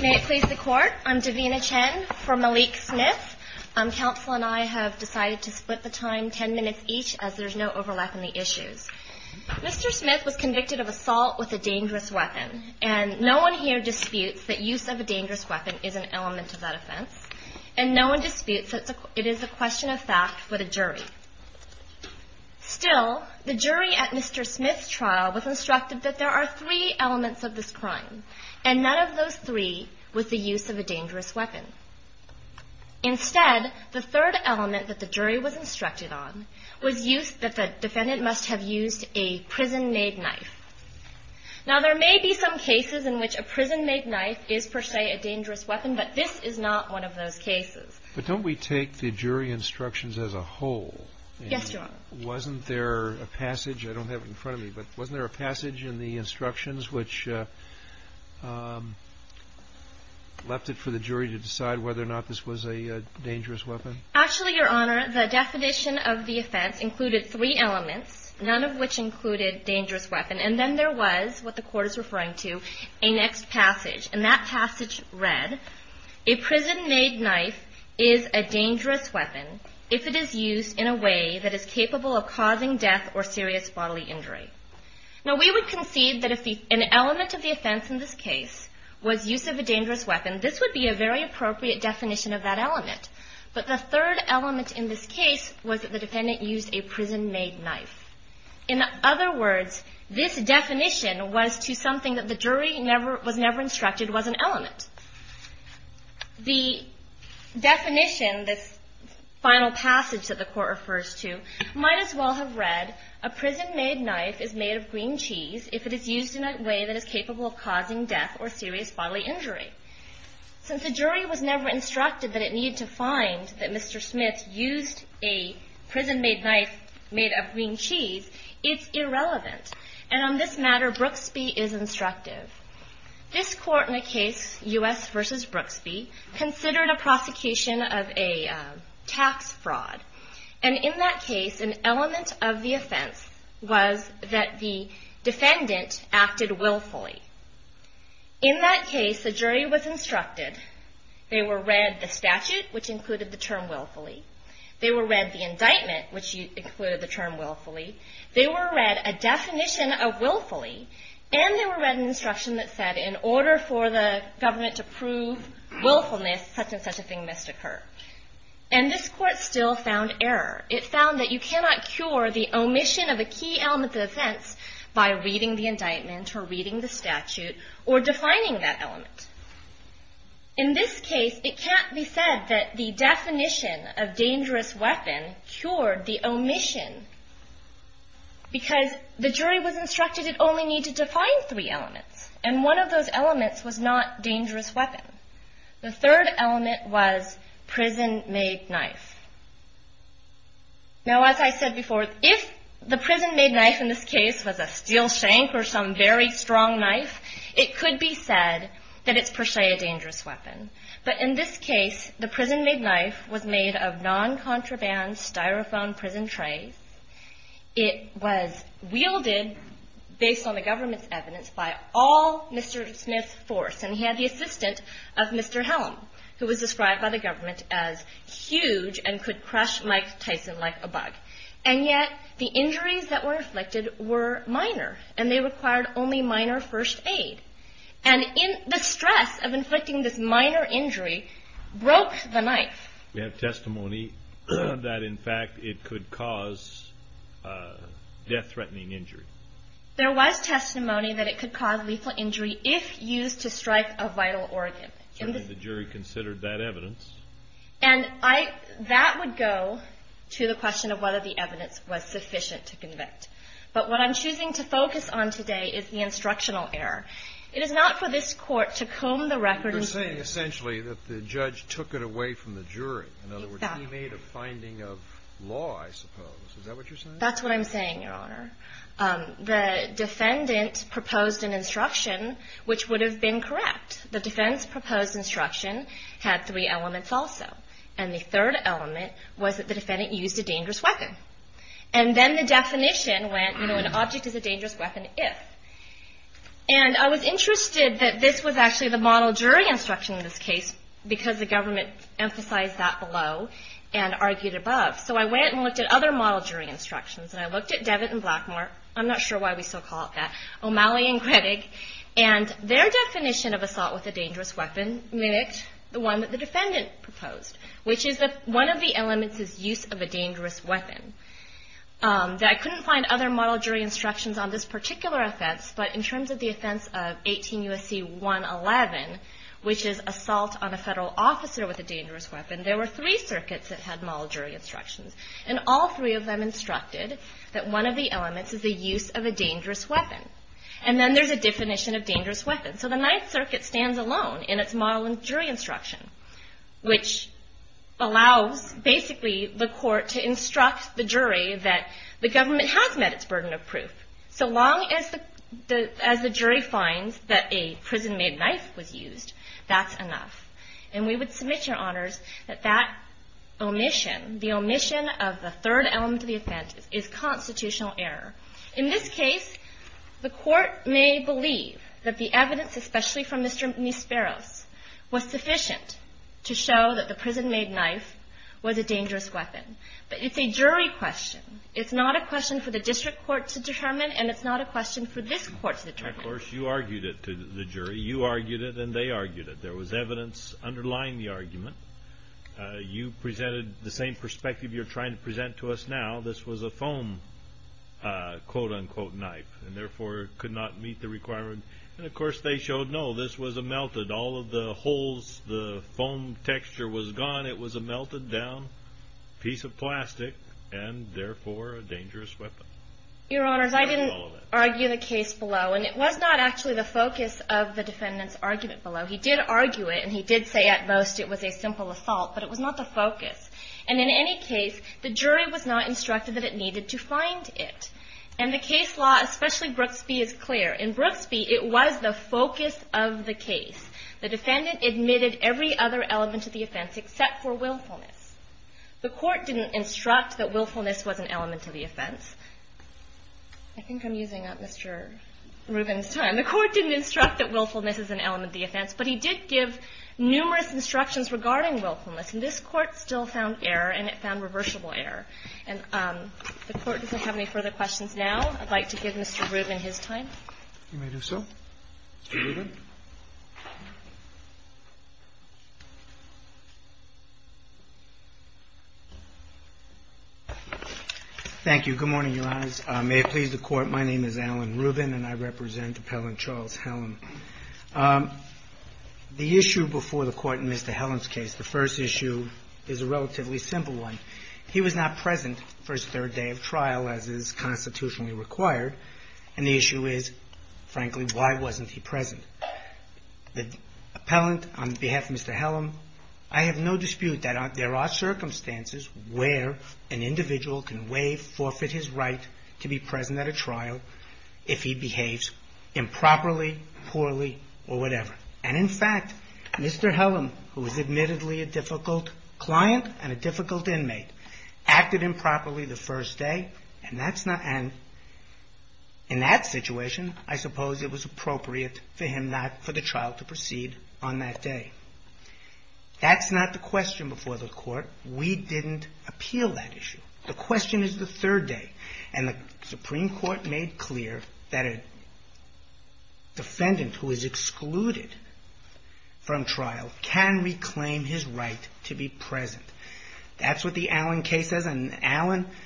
May it please the Court, I'm Davina Chen for Malik Smith. Counsel and I have decided to split the time ten minutes each as there's no overlap in the issues. Mr. Smith was convicted of assault with a dangerous weapon, and no one here disputes that use of a dangerous weapon is an element of that offense. And no one disputes that it is a question of fact with a jury. Still, the jury at Mr. Smith's trial was instructed that there are three elements of this crime, and none of those three was the use of a dangerous weapon. Instead, the third element that the jury was instructed on was that the defendant must have used a prison-made knife. Now, there may be some cases in which a prison-made knife is per se a dangerous weapon, but this is not one of those cases. But don't we take the jury instructions as a whole? Yes, Your Honor. And wasn't there a passage, I don't have it in front of me, but wasn't there a passage in the instructions which left it for the jury to decide whether or not this was a dangerous weapon? Actually, Your Honor, the definition of the offense included three elements, none of which included dangerous weapon. And then there was, what the court is referring to, a next passage. And that passage read, a prison-made knife is a dangerous weapon if it is used in a way that is capable of causing death or serious bodily injury. Now, we would concede that if an element of the offense in this case was use of a dangerous weapon, this would be a very appropriate definition of that element. But the third element in this case was that the defendant used a prison-made knife. In other words, this definition was to something that the jury was never instructed was an element. The definition, this final passage that the court refers to, might as well have read, a prison-made knife is made of green cheese if it is used in a way that is capable of causing death or serious bodily injury. Since the jury was never instructed that it needed to find that Mr. Smith used a prison-made knife made of green cheese, it's irrelevant. And on this matter, Brooksby is instructive. This court in a case, U.S. v. Brooksby, considered a prosecution of a tax fraud. And in that case, an element of the offense was that the defendant acted willfully. In that case, the jury was instructed. They were read the statute, which included the term willfully. They were read the indictment, which included the term willfully. They were read a definition of willfully. And they were read an instruction that said in order for the government to prove willfulness, such and such a thing must occur. And this court still found error. It found that you cannot cure the omission of a key element of the offense by reading the indictment or reading the statute or defining that element. In this case, it can't be said that the definition of dangerous weapon cured the omission because the jury was instructed it only needed to find three elements. And one of those elements was not dangerous weapon. The third element was prison-made knife. Now, as I said before, if the prison-made knife in this case was a steel shank or some very strong knife, it could be said that it's per se a dangerous weapon. But in this case, the prison-made knife was made of non-contraband styrofoam prison trays. It was wielded based on the government's evidence by all Mr. Smith's force. And he had the assistant of Mr. Helm, who was described by the government as huge and could crush Mike Tyson like a bug. And yet the injuries that were inflicted were minor, and they required only minor first aid. And the stress of inflicting this minor injury broke the knife. We have testimony that, in fact, it could cause death-threatening injury. There was testimony that it could cause lethal injury if used to strike a vital organ. And the jury considered that evidence. And I – that would go to the question of whether the evidence was sufficient to convict. But what I'm choosing to focus on today is the instructional error. It is not for this Court to comb the record. You're saying essentially that the judge took it away from the jury. Exactly. In other words, he made a finding of law, I suppose. Is that what you're saying? That's what I'm saying, Your Honor. The defendant proposed an instruction which would have been correct. The defense proposed instruction had three elements also. And the third element was that the defendant used a dangerous weapon. And then the definition went, you know, an object is a dangerous weapon if. And I was interested that this was actually the model jury instruction in this case because the government emphasized that below and argued above. So I went and looked at other model jury instructions. And I looked at Devitt and Blackmore. I'm not sure why we still call it that. O'Malley and Grittig. And their definition of assault with a dangerous weapon mimicked the one that the defendant proposed, which is that one of the elements is use of a dangerous weapon. I couldn't find other model jury instructions on this particular offense. But in terms of the offense of 18 U.S.C. 111, which is assault on a federal officer with a dangerous weapon, there were three circuits that had model jury instructions. And all three of them instructed that one of the elements is the use of a dangerous weapon. And then there's a definition of dangerous weapon. So the Ninth Circuit stands alone in its model jury instruction, which allows basically the court to instruct the jury that the government has met its burden of proof. So long as the jury finds that a prison-made knife was used, that's enough. And we would submit, Your Honors, that that omission, the omission of the third element of the offense, is constitutional error. In this case, the court may believe that the evidence, especially from Mr. Misperos, was sufficient to show that the prison-made knife was a dangerous weapon. But it's a jury question. It's not a question for the district court to determine, and it's not a question for this court to determine. Of course, you argued it to the jury. You argued it, and they argued it. There was evidence underlying the argument. You presented the same perspective you're trying to present to us now. This was a foam, quote-unquote, knife and, therefore, could not meet the requirement. And, of course, they showed, no, this was a melted. All of the holes, the foam texture was gone. It was a melted-down piece of plastic and, therefore, a dangerous weapon. Your Honors, I didn't argue the case below. And it was not actually the focus of the defendant's argument below. He did argue it, and he did say at most it was a simple assault, but it was not the focus. And in any case, the jury was not instructed that it needed to find it. And the case law, especially Brooks v. is clear. In Brooks v., it was the focus of the case. The defendant admitted every other element of the offense except for willfulness. The court didn't instruct that willfulness was an element of the offense. I think I'm using up Mr. Rubin's time. And the court didn't instruct that willfulness is an element of the offense, but he did give numerous instructions regarding willfulness. And this Court still found error, and it found reversible error. And the Court doesn't have any further questions now. I'd like to give Mr. Rubin his time. Roberts. You may do so. Mr. Rubin. Thank you. Good morning, Your Honors. May it please the Court, my name is Alan Rubin, and I represent Appellant Charles Hellam. The issue before the Court in Mr. Hellam's case, the first issue is a relatively simple one. He was not present for his third day of trial, as is constitutionally required. And the issue is, frankly, why wasn't he present? The appellant, on behalf of Mr. Hellam, I have no dispute that there are circumstances where an individual can waive, forfeit his right to be present at a trial if he behaves improperly, poorly, or whatever. And in fact, Mr. Hellam, who is admittedly a difficult client and a difficult inmate, acted improperly the first day, and that's not – and in that situation, I suppose it was appropriate for him not – for the trial to proceed on that day. That's not the question before the Court. We didn't appeal that issue. The question is the third day. And the Supreme Court made clear that a defendant who is excluded from trial can reclaim his right to be present. That's what the Allen case says, and Allen –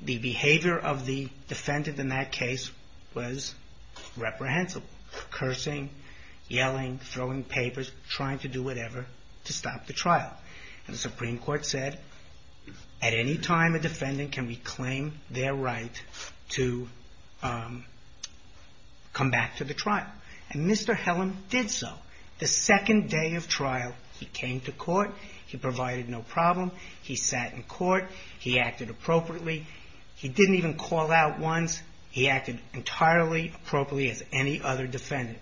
the behavior of the defendant in that case was reprehensible. Cursing, yelling, throwing papers, trying to do whatever to stop the trial. And the Supreme Court said, at any time a defendant can reclaim their right to come back to the trial. And Mr. Hellam did so. The second day of trial, he came to court. He provided no problem. He sat in court. He acted appropriately. He didn't even call out once. He acted entirely appropriately as any other defendant.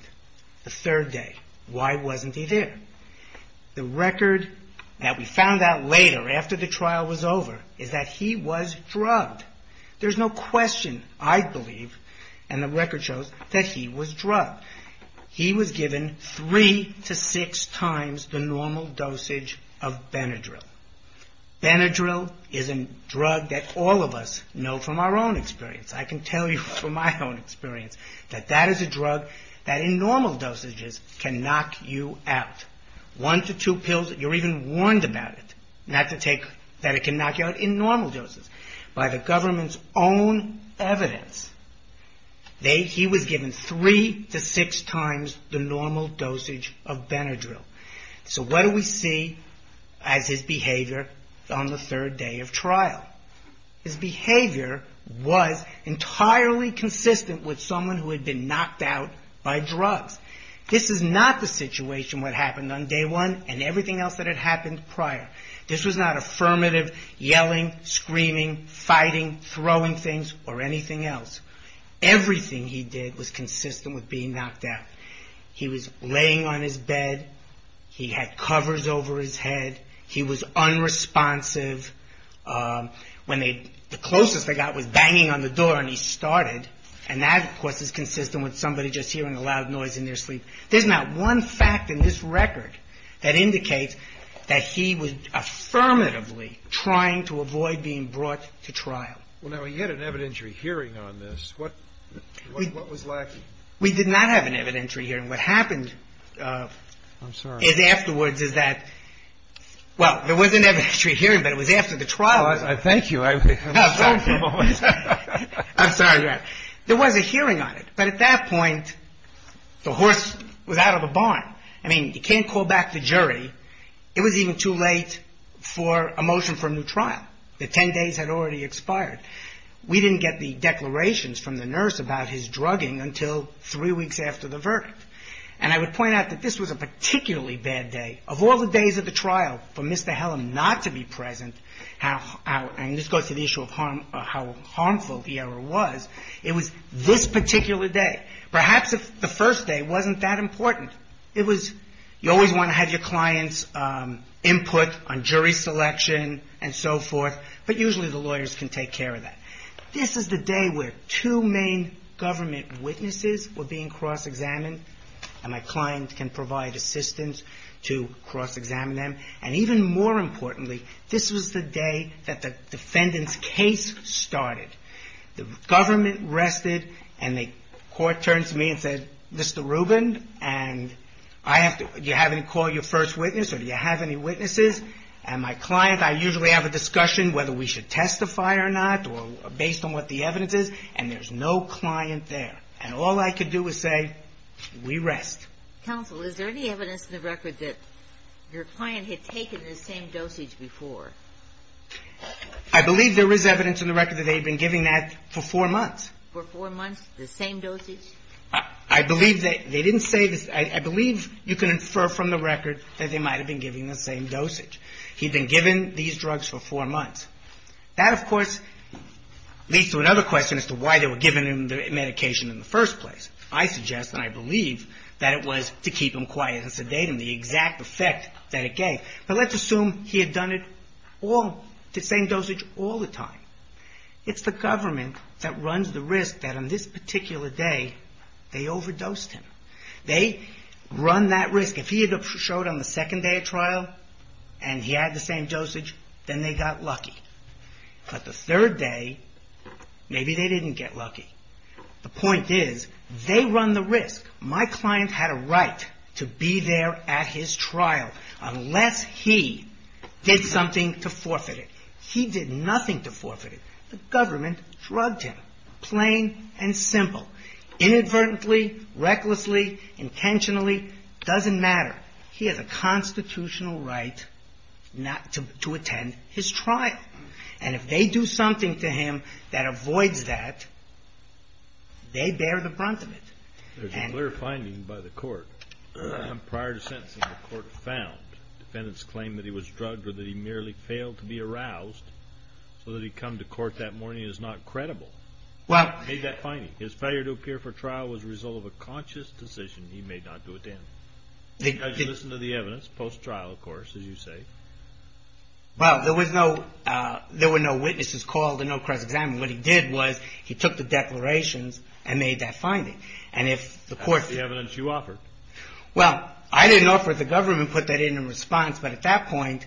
The third day, why wasn't he there? The record that we found out later, after the trial was over, is that he was drugged. There's no question, I believe, and the record shows, that he was drugged. He was given three to six times the normal dosage of Benadryl. Benadryl is a drug that all of us know from our own experience. I can tell you from my own experience that that is a drug that in normal dosages can knock you out. One to two pills, you're even warned about it. Not to take, that it can knock you out in normal doses. By the government's own evidence, he was given three to six times the normal dosage of Benadryl. So what do we see as his behavior on the third day of trial? His behavior was entirely consistent with someone who had been knocked out by drugs. This is not the situation that happened on day one and everything else that had happened prior. This was not affirmative yelling, screaming, fighting, throwing things, or anything else. Everything he did was consistent with being knocked out. He was laying on his bed. He had covers over his head. He was unresponsive. The closest they got was banging on the door and he started. And that, of course, is consistent with somebody just hearing a loud noise in their sleep. There's not one fact in this record that indicates that he was affirmatively trying to avoid being brought to trial. Well, now, he had an evidentiary hearing on this. What was lacking? We did not have an evidentiary hearing. What happened is afterwards is that, well, there was an evidentiary hearing, but it was after the trial. Thank you. I'm sorry. There was a hearing on it, but at that point, the horse was out of the barn. I mean, you can't call back the jury. It was even too late for a motion for a new trial. The 10 days had already expired. We didn't get the declarations from the nurse about his drugging until three weeks after the verdict. And I would point out that this was a particularly bad day. Of all the days of the trial for Mr. Hellam not to be present, and this goes to the issue of how harmful the error was, it was this particular day. Perhaps the first day wasn't that important. You always want to have your client's input on jury selection and so forth, but usually the lawyers can take care of that. This is the day where two main government witnesses were being cross-examined, and my client can provide assistance to cross-examine them. And even more importantly, this was the day that the defendant's case started. The government rested, and the court turned to me and said, Mr. Rubin, do you have any call your first witness, or do you have any witnesses? And my client, I usually have a discussion whether we should testify or not, or based on what the evidence is, and there's no client there. And all I could do was say, we rest. Counsel, is there any evidence in the record that your client had taken the same dosage before? I believe there is evidence in the record that they had been giving that for four months. For four months, the same dosage? I believe they didn't say this. I believe you can infer from the record that they might have been giving the same dosage. He'd been given these drugs for four months. That, of course, leads to another question as to why they were giving him the medication in the first place. I suggest, and I believe, that it was to keep him quiet and sedate him, the exact effect that it gave. But let's assume he had done it all, the same dosage, all the time. It's the government that runs the risk that on this particular day, they overdosed him. They run that risk. If he had showed on the second day of trial and he had the same dosage, then they got lucky. But the third day, maybe they didn't get lucky. The point is, they run the risk. My client had a right to be there at his trial unless he did something to forfeit it. He did nothing to forfeit it. The government drugged him, plain and simple. Inadvertently, recklessly, intentionally, doesn't matter. He has a constitutional right not to attend his trial. And if they do something to him that avoids that, they bear the brunt of it. There's a clear finding by the Court. Prior to sentencing, the Court found defendants claimed that he was drugged or that he merely failed to be aroused, so that he'd come to court that morning is not credible. He made that finding. His failure to appear for trial was a result of a conscious decision he made not to attend. Did you listen to the evidence post-trial, of course, as you say? Well, there were no witnesses called and no cross-examination. What he did was he took the declarations and made that finding. That's the evidence you offered. Well, I didn't offer it. The government put that in in response. But at that point,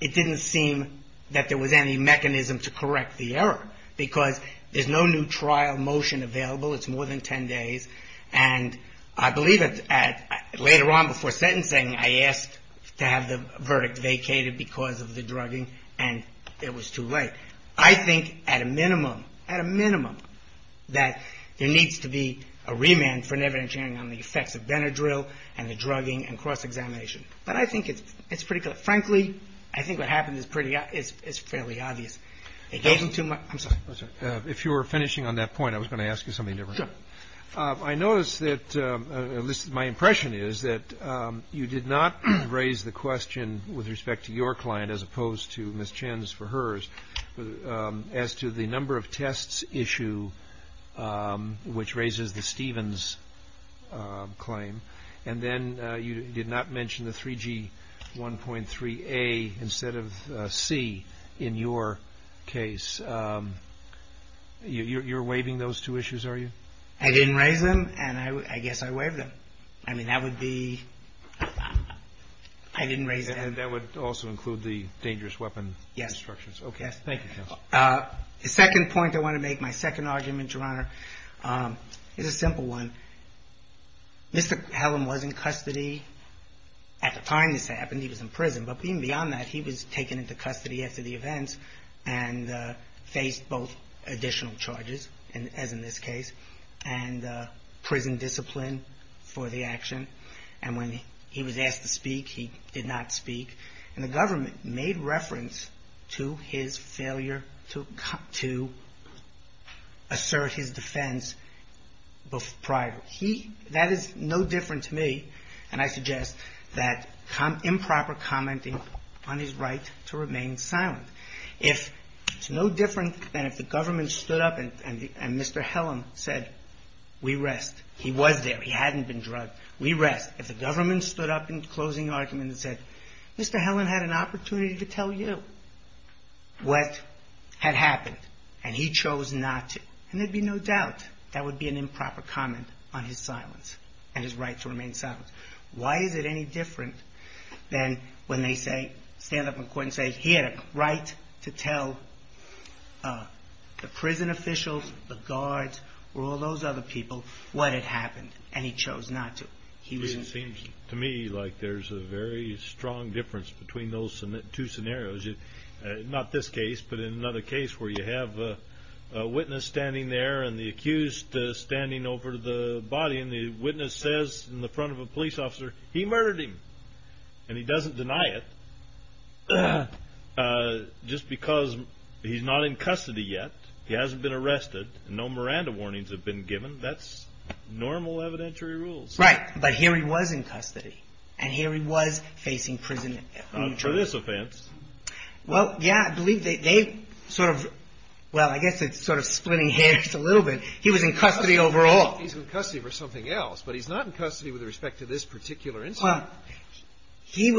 it didn't seem that there was any mechanism to correct the error because there's no new trial motion available. It's more than 10 days. And I believe that later on before sentencing, I asked to have the verdict vacated because of the drugging, and it was too late. I think at a minimum, at a minimum, that there needs to be a remand for an evidentiary on the effects of Benadryl and the drugging and cross-examination. But I think it's pretty clear. Frankly, I think what happened is pretty obvious. It wasn't too much. I'm sorry. I'm sorry. If you were finishing on that point, I was going to ask you something different. Sure. I noticed that, at least my impression is, that you did not raise the question with respect to your client as opposed to Ms. Chen's for hers as to the number of tests issue which raises the Stevens claim, and then you did not mention the 3G1.3a instead of C in your case. You're waiving those two issues, are you? I didn't raise them, and I guess I waived them. I mean, that would be – I didn't raise them. And that would also include the dangerous weapon instructions. Yes. Okay. Thank you, counsel. The second point I want to make, my second argument, Your Honor, is a simple one. Mr. Hallam was in custody at the time this happened. He was in prison. But even beyond that, he was taken into custody after the events and faced both additional charges, as in this case, and prison discipline for the action. And when he was asked to speak, he did not speak. And the government made reference to his failure to assert his defense prior. That is no different to me, and I suggest that improper commenting on his right to remain silent. It's no different than if the government stood up and Mr. Hallam said, we rest. He was there. He hadn't been drugged. We rest. If the government stood up in closing argument and said, Mr. Hallam had an opportunity to tell you what had happened, and he chose not to. And there'd be no doubt that would be an improper comment on his silence and his right to remain silent. Why is it any different than when they stand up in court and say he had a right to tell the prison officials, the guards, or all those other people what had happened, and he chose not to. It seems to me like there's a very strong difference between those two scenarios. Not this case, but in another case where you have a witness standing there and the accused standing over the body, and the witness says in the front of a police officer, he murdered him. And he doesn't deny it just because he's not in custody yet. He hasn't been arrested. No Miranda warnings have been given. That's normal evidentiary rules. Right. But here he was in custody, and here he was facing prison. Not for this offense. Well, yeah, I believe they sort of, well, I guess it's sort of splitting hairs a little bit. He was in custody overall. He's in custody for something else, but he's not in custody with respect to this particular incident. Well, he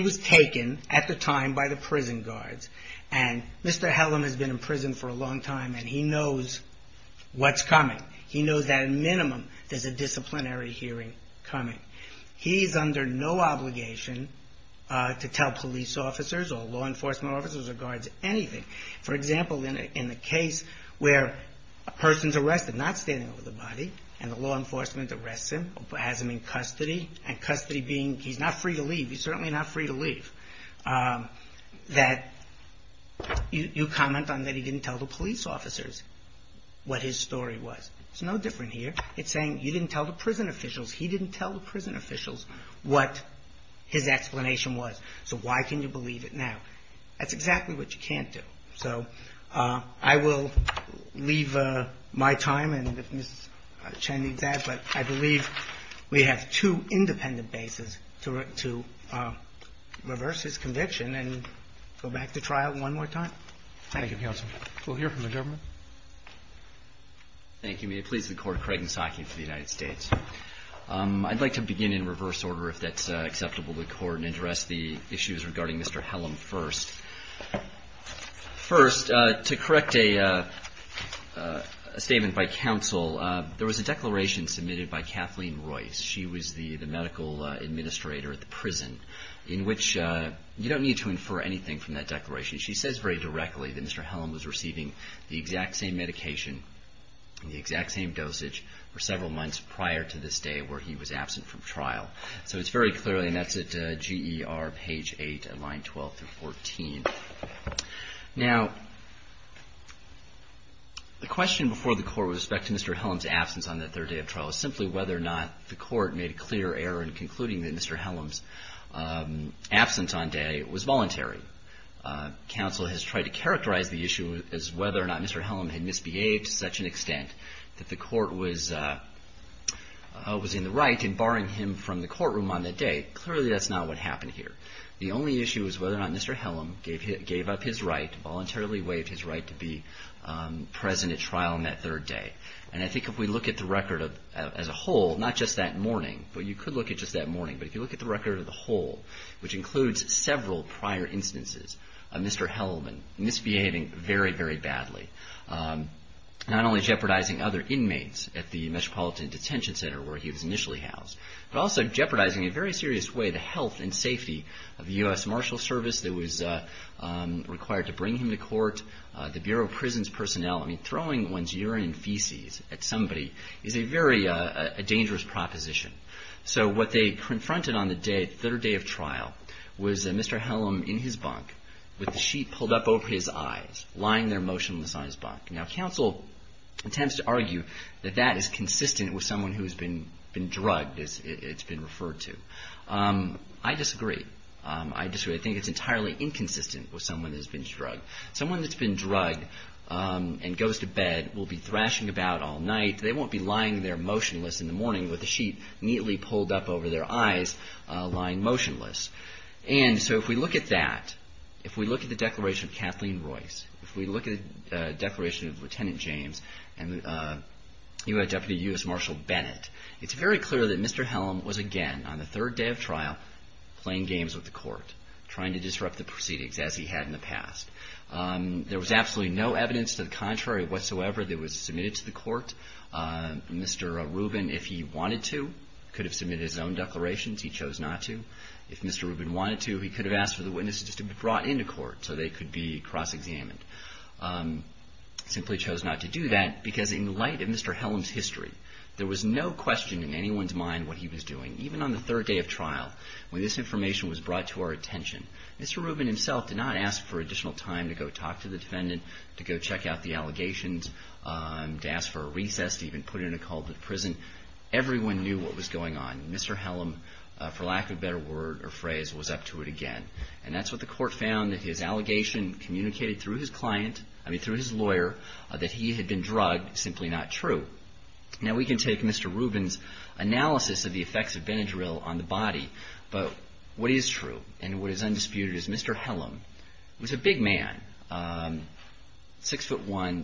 was taken at the time by the prison guards, and Mr. Hallam has been in prison for a long time, and he knows what's coming. He knows that at a minimum there's a disciplinary hearing coming. He's under no obligation to tell police officers or law enforcement officers or guards anything. For example, in the case where a person's arrested, not standing over the body, and the law enforcement arrests him or has him in custody, and custody being he's not free to leave. He's certainly not free to leave. That you comment on that he didn't tell the police officers what his story was. It's no different here. It's saying you didn't tell the prison officials. He didn't tell the prison officials what his explanation was. So why can you believe it now? That's exactly what you can't do. So I will leave my time, and if Ms. Chen needs that, but I believe we have two independent bases to reverse his conviction and go back to trial one more time. Thank you, counsel. We'll hear from the government. Thank you. May it please the Court, Craig Nisaki for the United States. I'd like to begin in reverse order if that's acceptable to the Court and address the issues regarding Mr. Hellam first. First, to correct a statement by counsel, there was a declaration submitted by Kathleen Royce. She was the medical administrator at the prison in which you don't need to infer anything from that declaration. She says very directly that Mr. Hellam was receiving the exact same medication, the exact same dosage for several months prior to this day where he was absent from trial. So it's very clearly, and that's at GER page 8 and line 12 through 14. Now, the question before the Court with respect to Mr. Hellam's absence on that third day of trial is simply whether or not the Court made a clear error in concluding that Mr. Hellam's absence on day was voluntary. Counsel has tried to characterize the issue as whether or not Mr. Hellam had misbehaved to such an extent that the Court was in the right in barring him from the courtroom on that day. Clearly, that's not what happened here. The only issue is whether or not Mr. Hellam gave up his right, voluntarily waived his right to be present at trial on that third day. And I think if we look at the record as a whole, not just that morning, but you could look at just that morning, but if you look at the record as a whole, which includes several prior instances of Mr. Hellam misbehaving very, very badly, not only jeopardizing other inmates at the Metropolitan Detention Center where he was initially housed, but also jeopardizing in a very serious way the health and safety of the U.S. Marshals Service that was required to bring him to court, the Bureau of Prisons personnel. I mean, throwing one's urine and feces at somebody is a very dangerous proposition. So what they confronted on the third day of trial was Mr. Hellam in his bunk with the sheet pulled up over his eyes, lying there motionless on his bunk. Now, counsel attempts to argue that that is consistent with someone who has been drugged, as it's been referred to. I disagree. I disagree. I think it's entirely inconsistent with someone that has been drugged. Someone that's been drugged and goes to bed will be thrashing about all night. They won't be lying there motionless in the morning with the sheet neatly pulled up over their eyes, lying motionless. And so if we look at that, if we look at the declaration of Kathleen Royce, if we look at the declaration of Lieutenant James and U.S. Deputy U.S. Marshal Bennett, it's very clear that Mr. Hellam was, again, on the third day of trial, playing games with the court, trying to disrupt the proceedings, as he had in the past. There was absolutely no evidence to the contrary whatsoever that was submitted to the court. Mr. Rubin, if he wanted to, could have submitted his own declarations. He chose not to. If Mr. Rubin wanted to, he could have asked for the witnesses to be brought into court so they could be cross-examined. Simply chose not to do that because in light of Mr. Hellam's history, there was no question in anyone's mind what he was doing, even on the third day of trial. When this information was brought to our attention, Mr. Rubin himself did not ask for additional time to go talk to the defendant, to go check out the allegations, to ask for a recess, to even put in a call to prison. Everyone knew what was going on. Mr. Hellam, for lack of a better word or phrase, was up to it again. And that's what the court found, that his allegation communicated through his client, I mean through his lawyer, that he had been drugged, simply not true. Now, we can take Mr. Rubin's analysis of the effects of Benadryl on the body, but what is true and what is undisputed is Mr. Hellam was a big man, 6'1",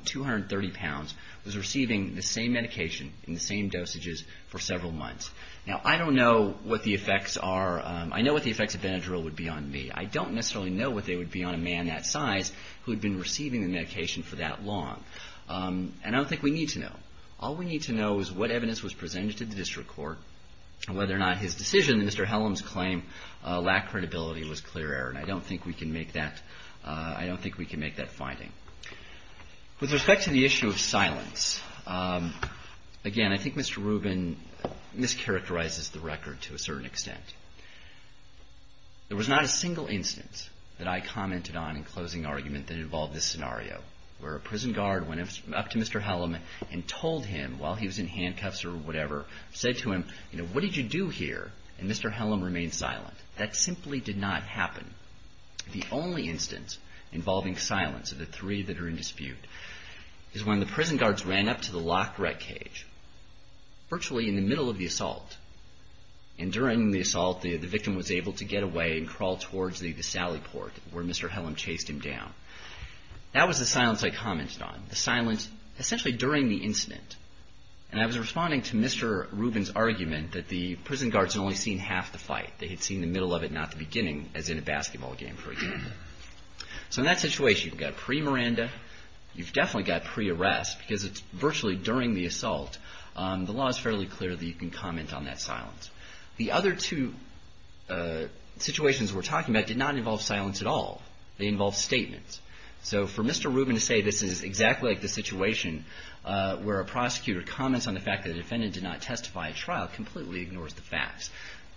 230 pounds, was receiving the same medication in the same dosages for several months. Now, I don't know what the effects are. I know what the effects of Benadryl would be on me. I don't necessarily know what they would be on a man that size who had been receiving the medication for that long. And I don't think we need to know. All we need to know is what evidence was presented to the district court and whether or not his decision, Mr. Hellam's claim, lacked credibility and was clear error. And I don't think we can make that finding. With respect to the issue of silence, again, I think Mr. Rubin mischaracterizes the record to a certain extent. There was not a single instance that I commented on in closing argument that involved this scenario, where a prison guard went up to Mr. Hellam and told him while he was in handcuffs or whatever, said to him, you know, what did you do here? And Mr. Hellam remained silent. That simply did not happen. The only instance involving silence of the three that are in dispute is when the prison guards ran up to the locked rat cage, virtually in the middle of the assault. And during the assault, the victim was able to get away and crawl towards the sally port where Mr. Hellam chased him down. That was the silence I commented on, the silence essentially during the incident. And I was responding to Mr. Rubin's argument that the prison guards had only seen half the fight. They had seen the middle of it, not the beginning, as in a basketball game, for example. So in that situation, you've got pre-Miranda. You've definitely got pre-arrest because it's virtually during the assault. The law is fairly clear that you can comment on that silence. The other two situations we're talking about did not involve silence at all. They involved statements. So for Mr. Rubin to say this is exactly like the situation where a prosecutor comments on the fact that a defendant did not testify at trial completely ignores the facts.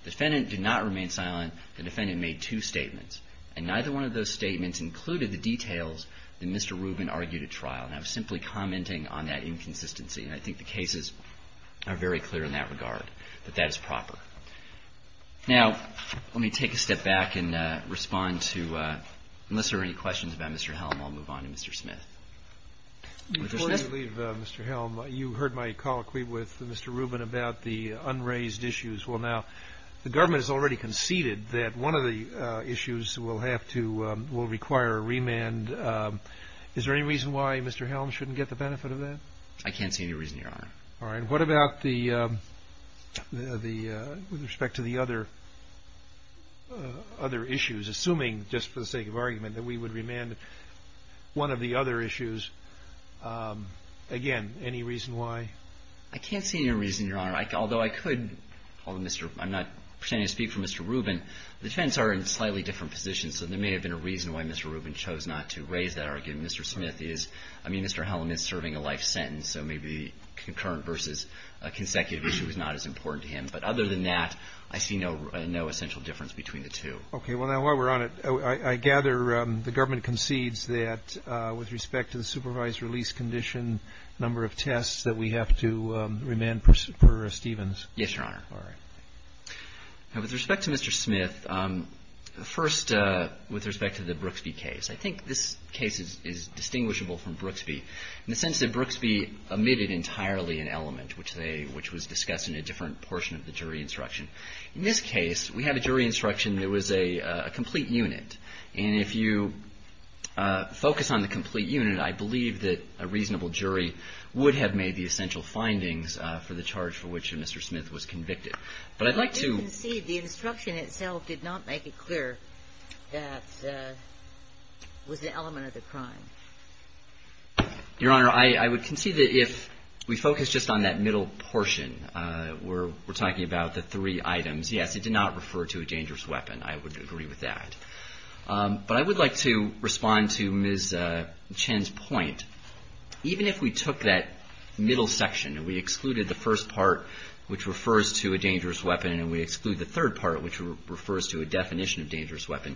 The defendant did not remain silent. The defendant made two statements. And neither one of those statements included the details that Mr. Rubin argued at trial. And I was simply commenting on that inconsistency. And I think the cases are very clear in that regard, that that is proper. Now, let me take a step back and respond to, unless there are any questions about Mr. Helm, I'll move on to Mr. Smith. Mr. Smith? Before you leave, Mr. Helm, you heard my colloquy with Mr. Rubin about the unraised issues. Well, now, the government has already conceded that one of the issues will have to ‑‑ will require a remand. Is there any reason why Mr. Helm shouldn't get the benefit of that? I can't see any reason, Your Honor. All right. What about the ‑‑ with respect to the other issues? Assuming, just for the sake of argument, that we would remand one of the other issues, again, any reason why? I can't see any reason, Your Honor. Although I could call Mr. ‑‑ I'm not pretending to speak for Mr. Rubin. The defendants are in slightly different positions, so there may have been a reason why Mr. Rubin chose not to raise that argument. Mr. Smith is ‑‑ I mean, Mr. Helm is serving a life sentence, so maybe the concurrent versus consecutive issue is not as important to him. But other than that, I see no essential difference between the two. Okay. Well, now, while we're on it, I gather the government concedes that, with respect to the supervised release condition, a number of tests that we have to remand per Stevens. Yes, Your Honor. All right. Now, with respect to Mr. Smith, first, with respect to the Brooksby case, I think this case is distinguishable from Brooksby in the sense that Brooksby omitted entirely an element, which was discussed in a different portion of the jury instruction. In this case, we have a jury instruction that was a complete unit. And if you focus on the complete unit, I believe that a reasonable jury would have made the essential findings for the charge for which Mr. Smith was convicted. But I'd like to ‑‑ I do concede the instruction itself did not make it clear that it was an element of the crime. Your Honor, I would concede that if we focus just on that middle portion, where we're talking about the three items, yes, it did not refer to a dangerous weapon. I would agree with that. But I would like to respond to Ms. Chen's point. Even if we took that middle section and we excluded the first part, which refers to a dangerous weapon, and we exclude the third part, which refers to a definition of dangerous weapon,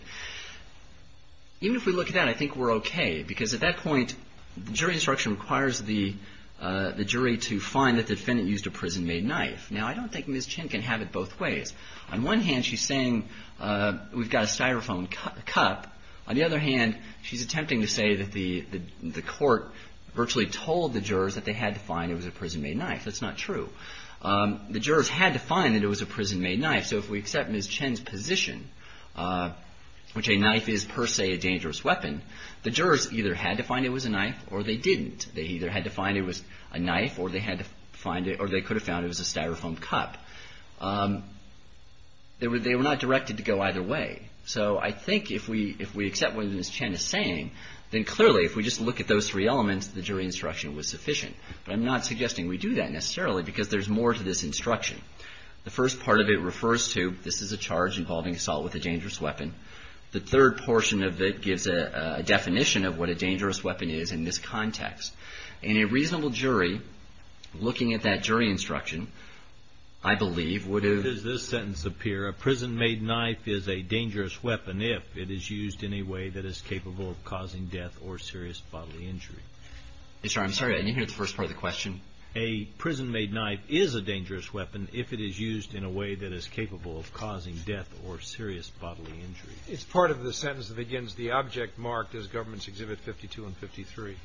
even if we look at that, I think we're okay. Because at that point, the jury instruction requires the jury to find that the defendant used a prison‑made knife. Now, I don't think Ms. Chen can have it both ways. On one hand, she's saying we've got a styrofoam cup. On the other hand, she's attempting to say that the court virtually told the jurors that they had to find it was a prison‑made knife. That's not true. The jurors had to find that it was a prison‑made knife. So if we accept Ms. Chen's position, which a knife is per se a dangerous weapon, the jurors either had to find it was a knife or they didn't. They either had to find it was a knife or they could have found it was a styrofoam cup. They were not directed to go either way. So I think if we accept what Ms. Chen is saying, then clearly if we just look at those three elements, the jury instruction was sufficient. But I'm not suggesting we do that necessarily because there's more to this instruction. The first part of it refers to this is a charge involving assault with a dangerous weapon. The third portion of it gives a definition of what a dangerous weapon is in this context. And a reasonable jury, looking at that jury instruction, I believe would have ‑‑ What does this sentence appear? A prison‑made knife is a dangerous weapon if it is used in a way that is capable of causing death or serious bodily injury. I'm sorry. I didn't hear the first part of the question. A prison‑made knife is a dangerous weapon if it is used in a way that is capable of causing death or serious bodily injury. It's part of the sentence that begins, the object marked as Governments Exhibit 52 and 53.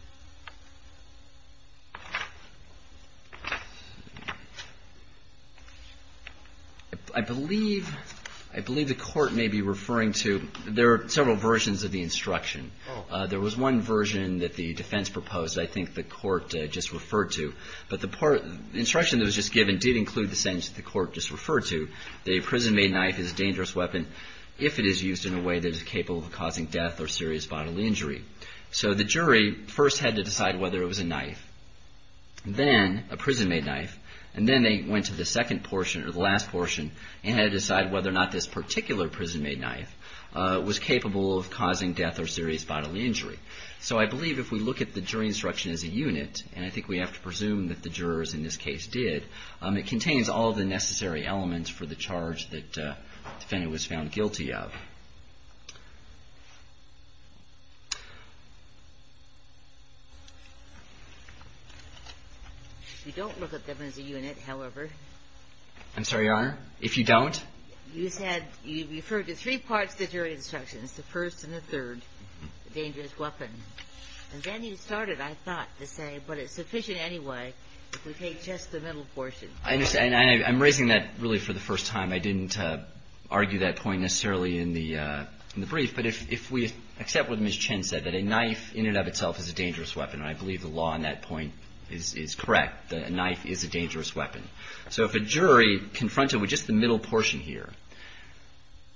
I believe the court may be referring to several versions of the instruction. There was one version that the defense proposed I think the court just referred to. The instruction that was just given did include the sentence that the court just referred to, that a prison‑made knife is a dangerous weapon if it is used in a way that is capable of causing death or serious bodily injury. So the jury first had to decide whether it was a knife, then a prison‑made knife, and then they went to the second portion or the last portion and had to decide whether or not this particular prison‑made knife was capable of causing death or serious bodily injury. So I believe if we look at the jury instruction as a unit, and I think we have to presume that the jurors in this case did, it contains all the necessary elements for the charge that the defendant was found guilty of. You don't look at them as a unit, however. I'm sorry, Your Honor, if you don't? You said you referred to three parts of the jury instructions, the first and the third, the dangerous weapon. And then you started, I thought, to say, but it's sufficient anyway if we take just the middle portion. I understand, and I'm raising that really for the first time. I didn't argue that point necessarily in the brief, but if we accept what Ms. Chen said, that a knife in and of itself is a dangerous weapon, and I believe the law on that point is correct, that a knife is a dangerous weapon. So if a jury confronted with just the middle portion here,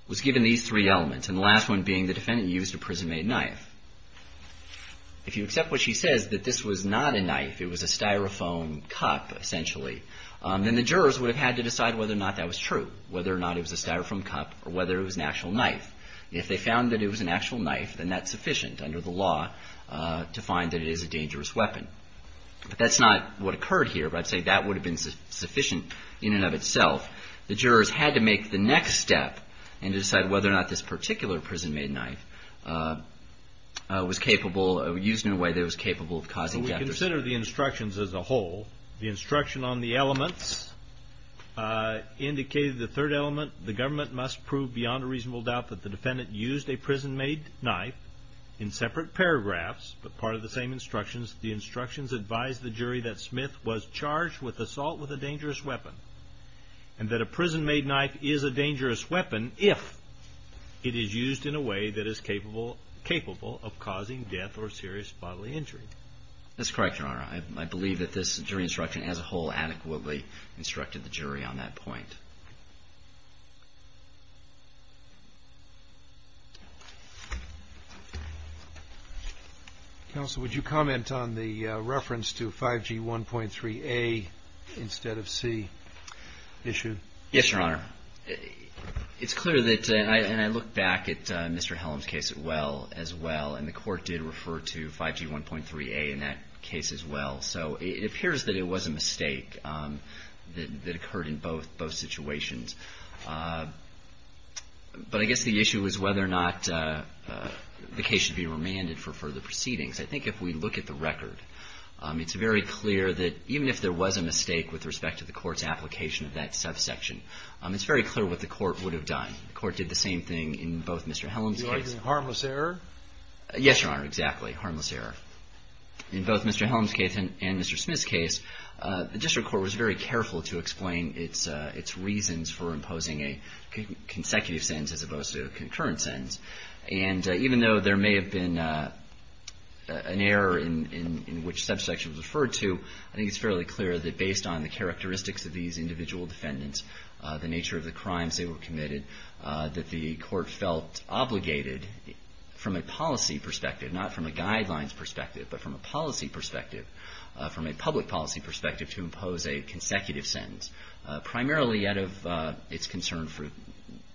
was given these three elements, and the last one being the defendant used a prison-made knife, if you accept what she says, that this was not a knife, it was a Styrofoam cup, essentially, then the jurors would have had to decide whether or not that was true, whether or not it was a Styrofoam cup or whether it was an actual knife. If they found that it was an actual knife, then that's sufficient under the law to find that it is a dangerous weapon. But that's not what occurred here, but I'd say that would have been sufficient in and of itself. The jurors had to make the next step and decide whether or not this particular prison-made knife was capable or used in a way that was capable of causing death. We consider the instructions as a whole. The instruction on the elements indicated the third element, the government must prove beyond a reasonable doubt that the defendant used a prison-made knife. In separate paragraphs, but part of the same instructions, the instructions advise the jury that Smith was charged with assault with a dangerous weapon. And that a prison-made knife is a dangerous weapon if it is used in a way that is capable of causing death or serious bodily injury. That's correct, Your Honor. I believe that this jury instruction as a whole adequately instructed the jury on that point. Counsel, would you comment on the reference to 5G1.3A instead of C issue? Yes, Your Honor. It's clear that, and I look back at Mr. Hellam's case as well, and the court did refer to 5G1.3A in that case as well. So it appears that it was a mistake that occurred in both situations. But I guess the issue is whether or not the case should be remanded for further proceedings. I think if we look at the record, it's very clear that even if there was a mistake with respect to the court's application of that subsection, it's very clear what the court would have done. The court did the same thing in both Mr. Hellam's cases. You're arguing harmless error? Yes, Your Honor, exactly, harmless error. In both Mr. Hellam's case and Mr. Smith's case, the district court was very careful to explain its reasons for imposing a consecutive sentence as opposed to a concurrent sentence. And even though there may have been an error in which subsection was referred to, I think it's fairly clear that based on the characteristics of these individual defendants, the nature of the crimes they were committed, that the court felt obligated from a policy perspective, not from a guidelines perspective, but from a policy perspective, from a public policy perspective, to impose a consecutive sentence, primarily out of its concern for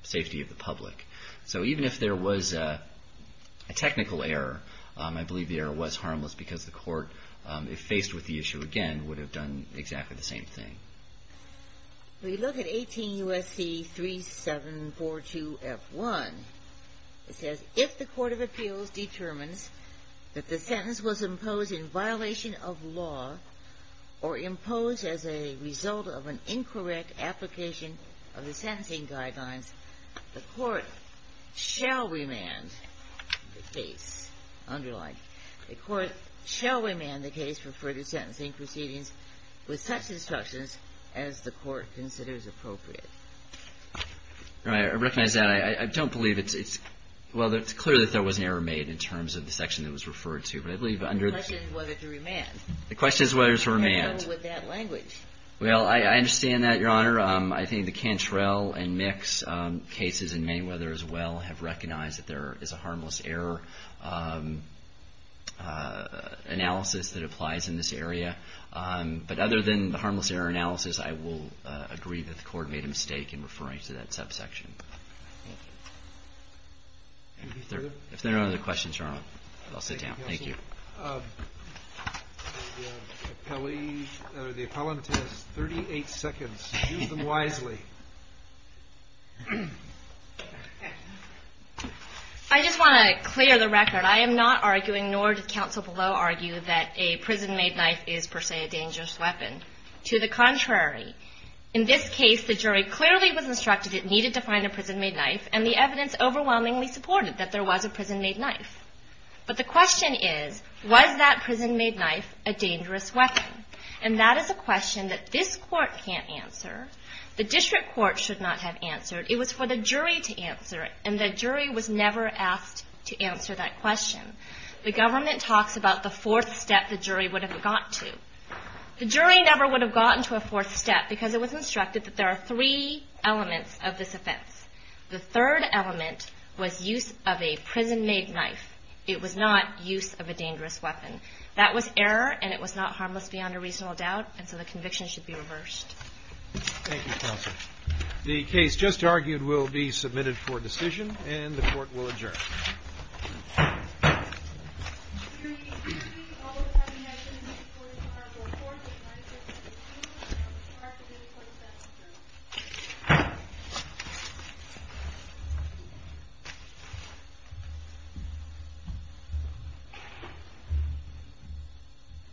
safety of the public. So even if there was a technical error, I believe the error was harmless because the court, if faced with the issue again, would have done exactly the same thing. We look at 18 U.S.C. 3742F1. It says, If the court of appeals determines that the sentence was imposed in violation of law or imposed as a result of an incorrect application of the sentencing guidelines, the court shall remand the case, underline, the court shall remand the case for further sentencing proceedings with such instructions as the court considers appropriate. All right. I recognize that. I don't believe it's – well, it's clear that there was an error made in terms of the section that was referred to. But I believe under the – The question is whether to remand. The question is whether to remand. How would that language? Well, I understand that, Your Honor. I think the Cantrell and Mix cases in Mayweather as well have recognized that there is a harmless error analysis that applies in this area. But other than the harmless error analysis, I will agree that the court made a mistake in referring to that subsection. If there are no other questions, Your Honor, I'll sit down. Thank you. The appellant has 38 seconds. Use them wisely. I just want to clear the record. I am not arguing, nor does counsel below argue, that a prison-made knife is per se a dangerous weapon. To the contrary. In this case, the jury clearly was instructed it needed to find a prison-made knife, and the evidence overwhelmingly supported that there was a prison-made knife. But the question is, was that prison-made knife a dangerous weapon? And that is a question that this court can't answer. The district court should not have answered. It was for the jury to answer it. And the jury was never asked to answer that question. The government talks about the fourth step the jury would have got to. The jury never would have gotten to a fourth step because it was instructed that there are three elements of this offense. The third element was use of a prison-made knife. It was not use of a dangerous weapon. That was error, and it was not harmless beyond a reasonable doubt, and so the conviction should be reversed. Thank you, counsel. The case just argued will be submitted for decision, and the court will adjourn. Thank you.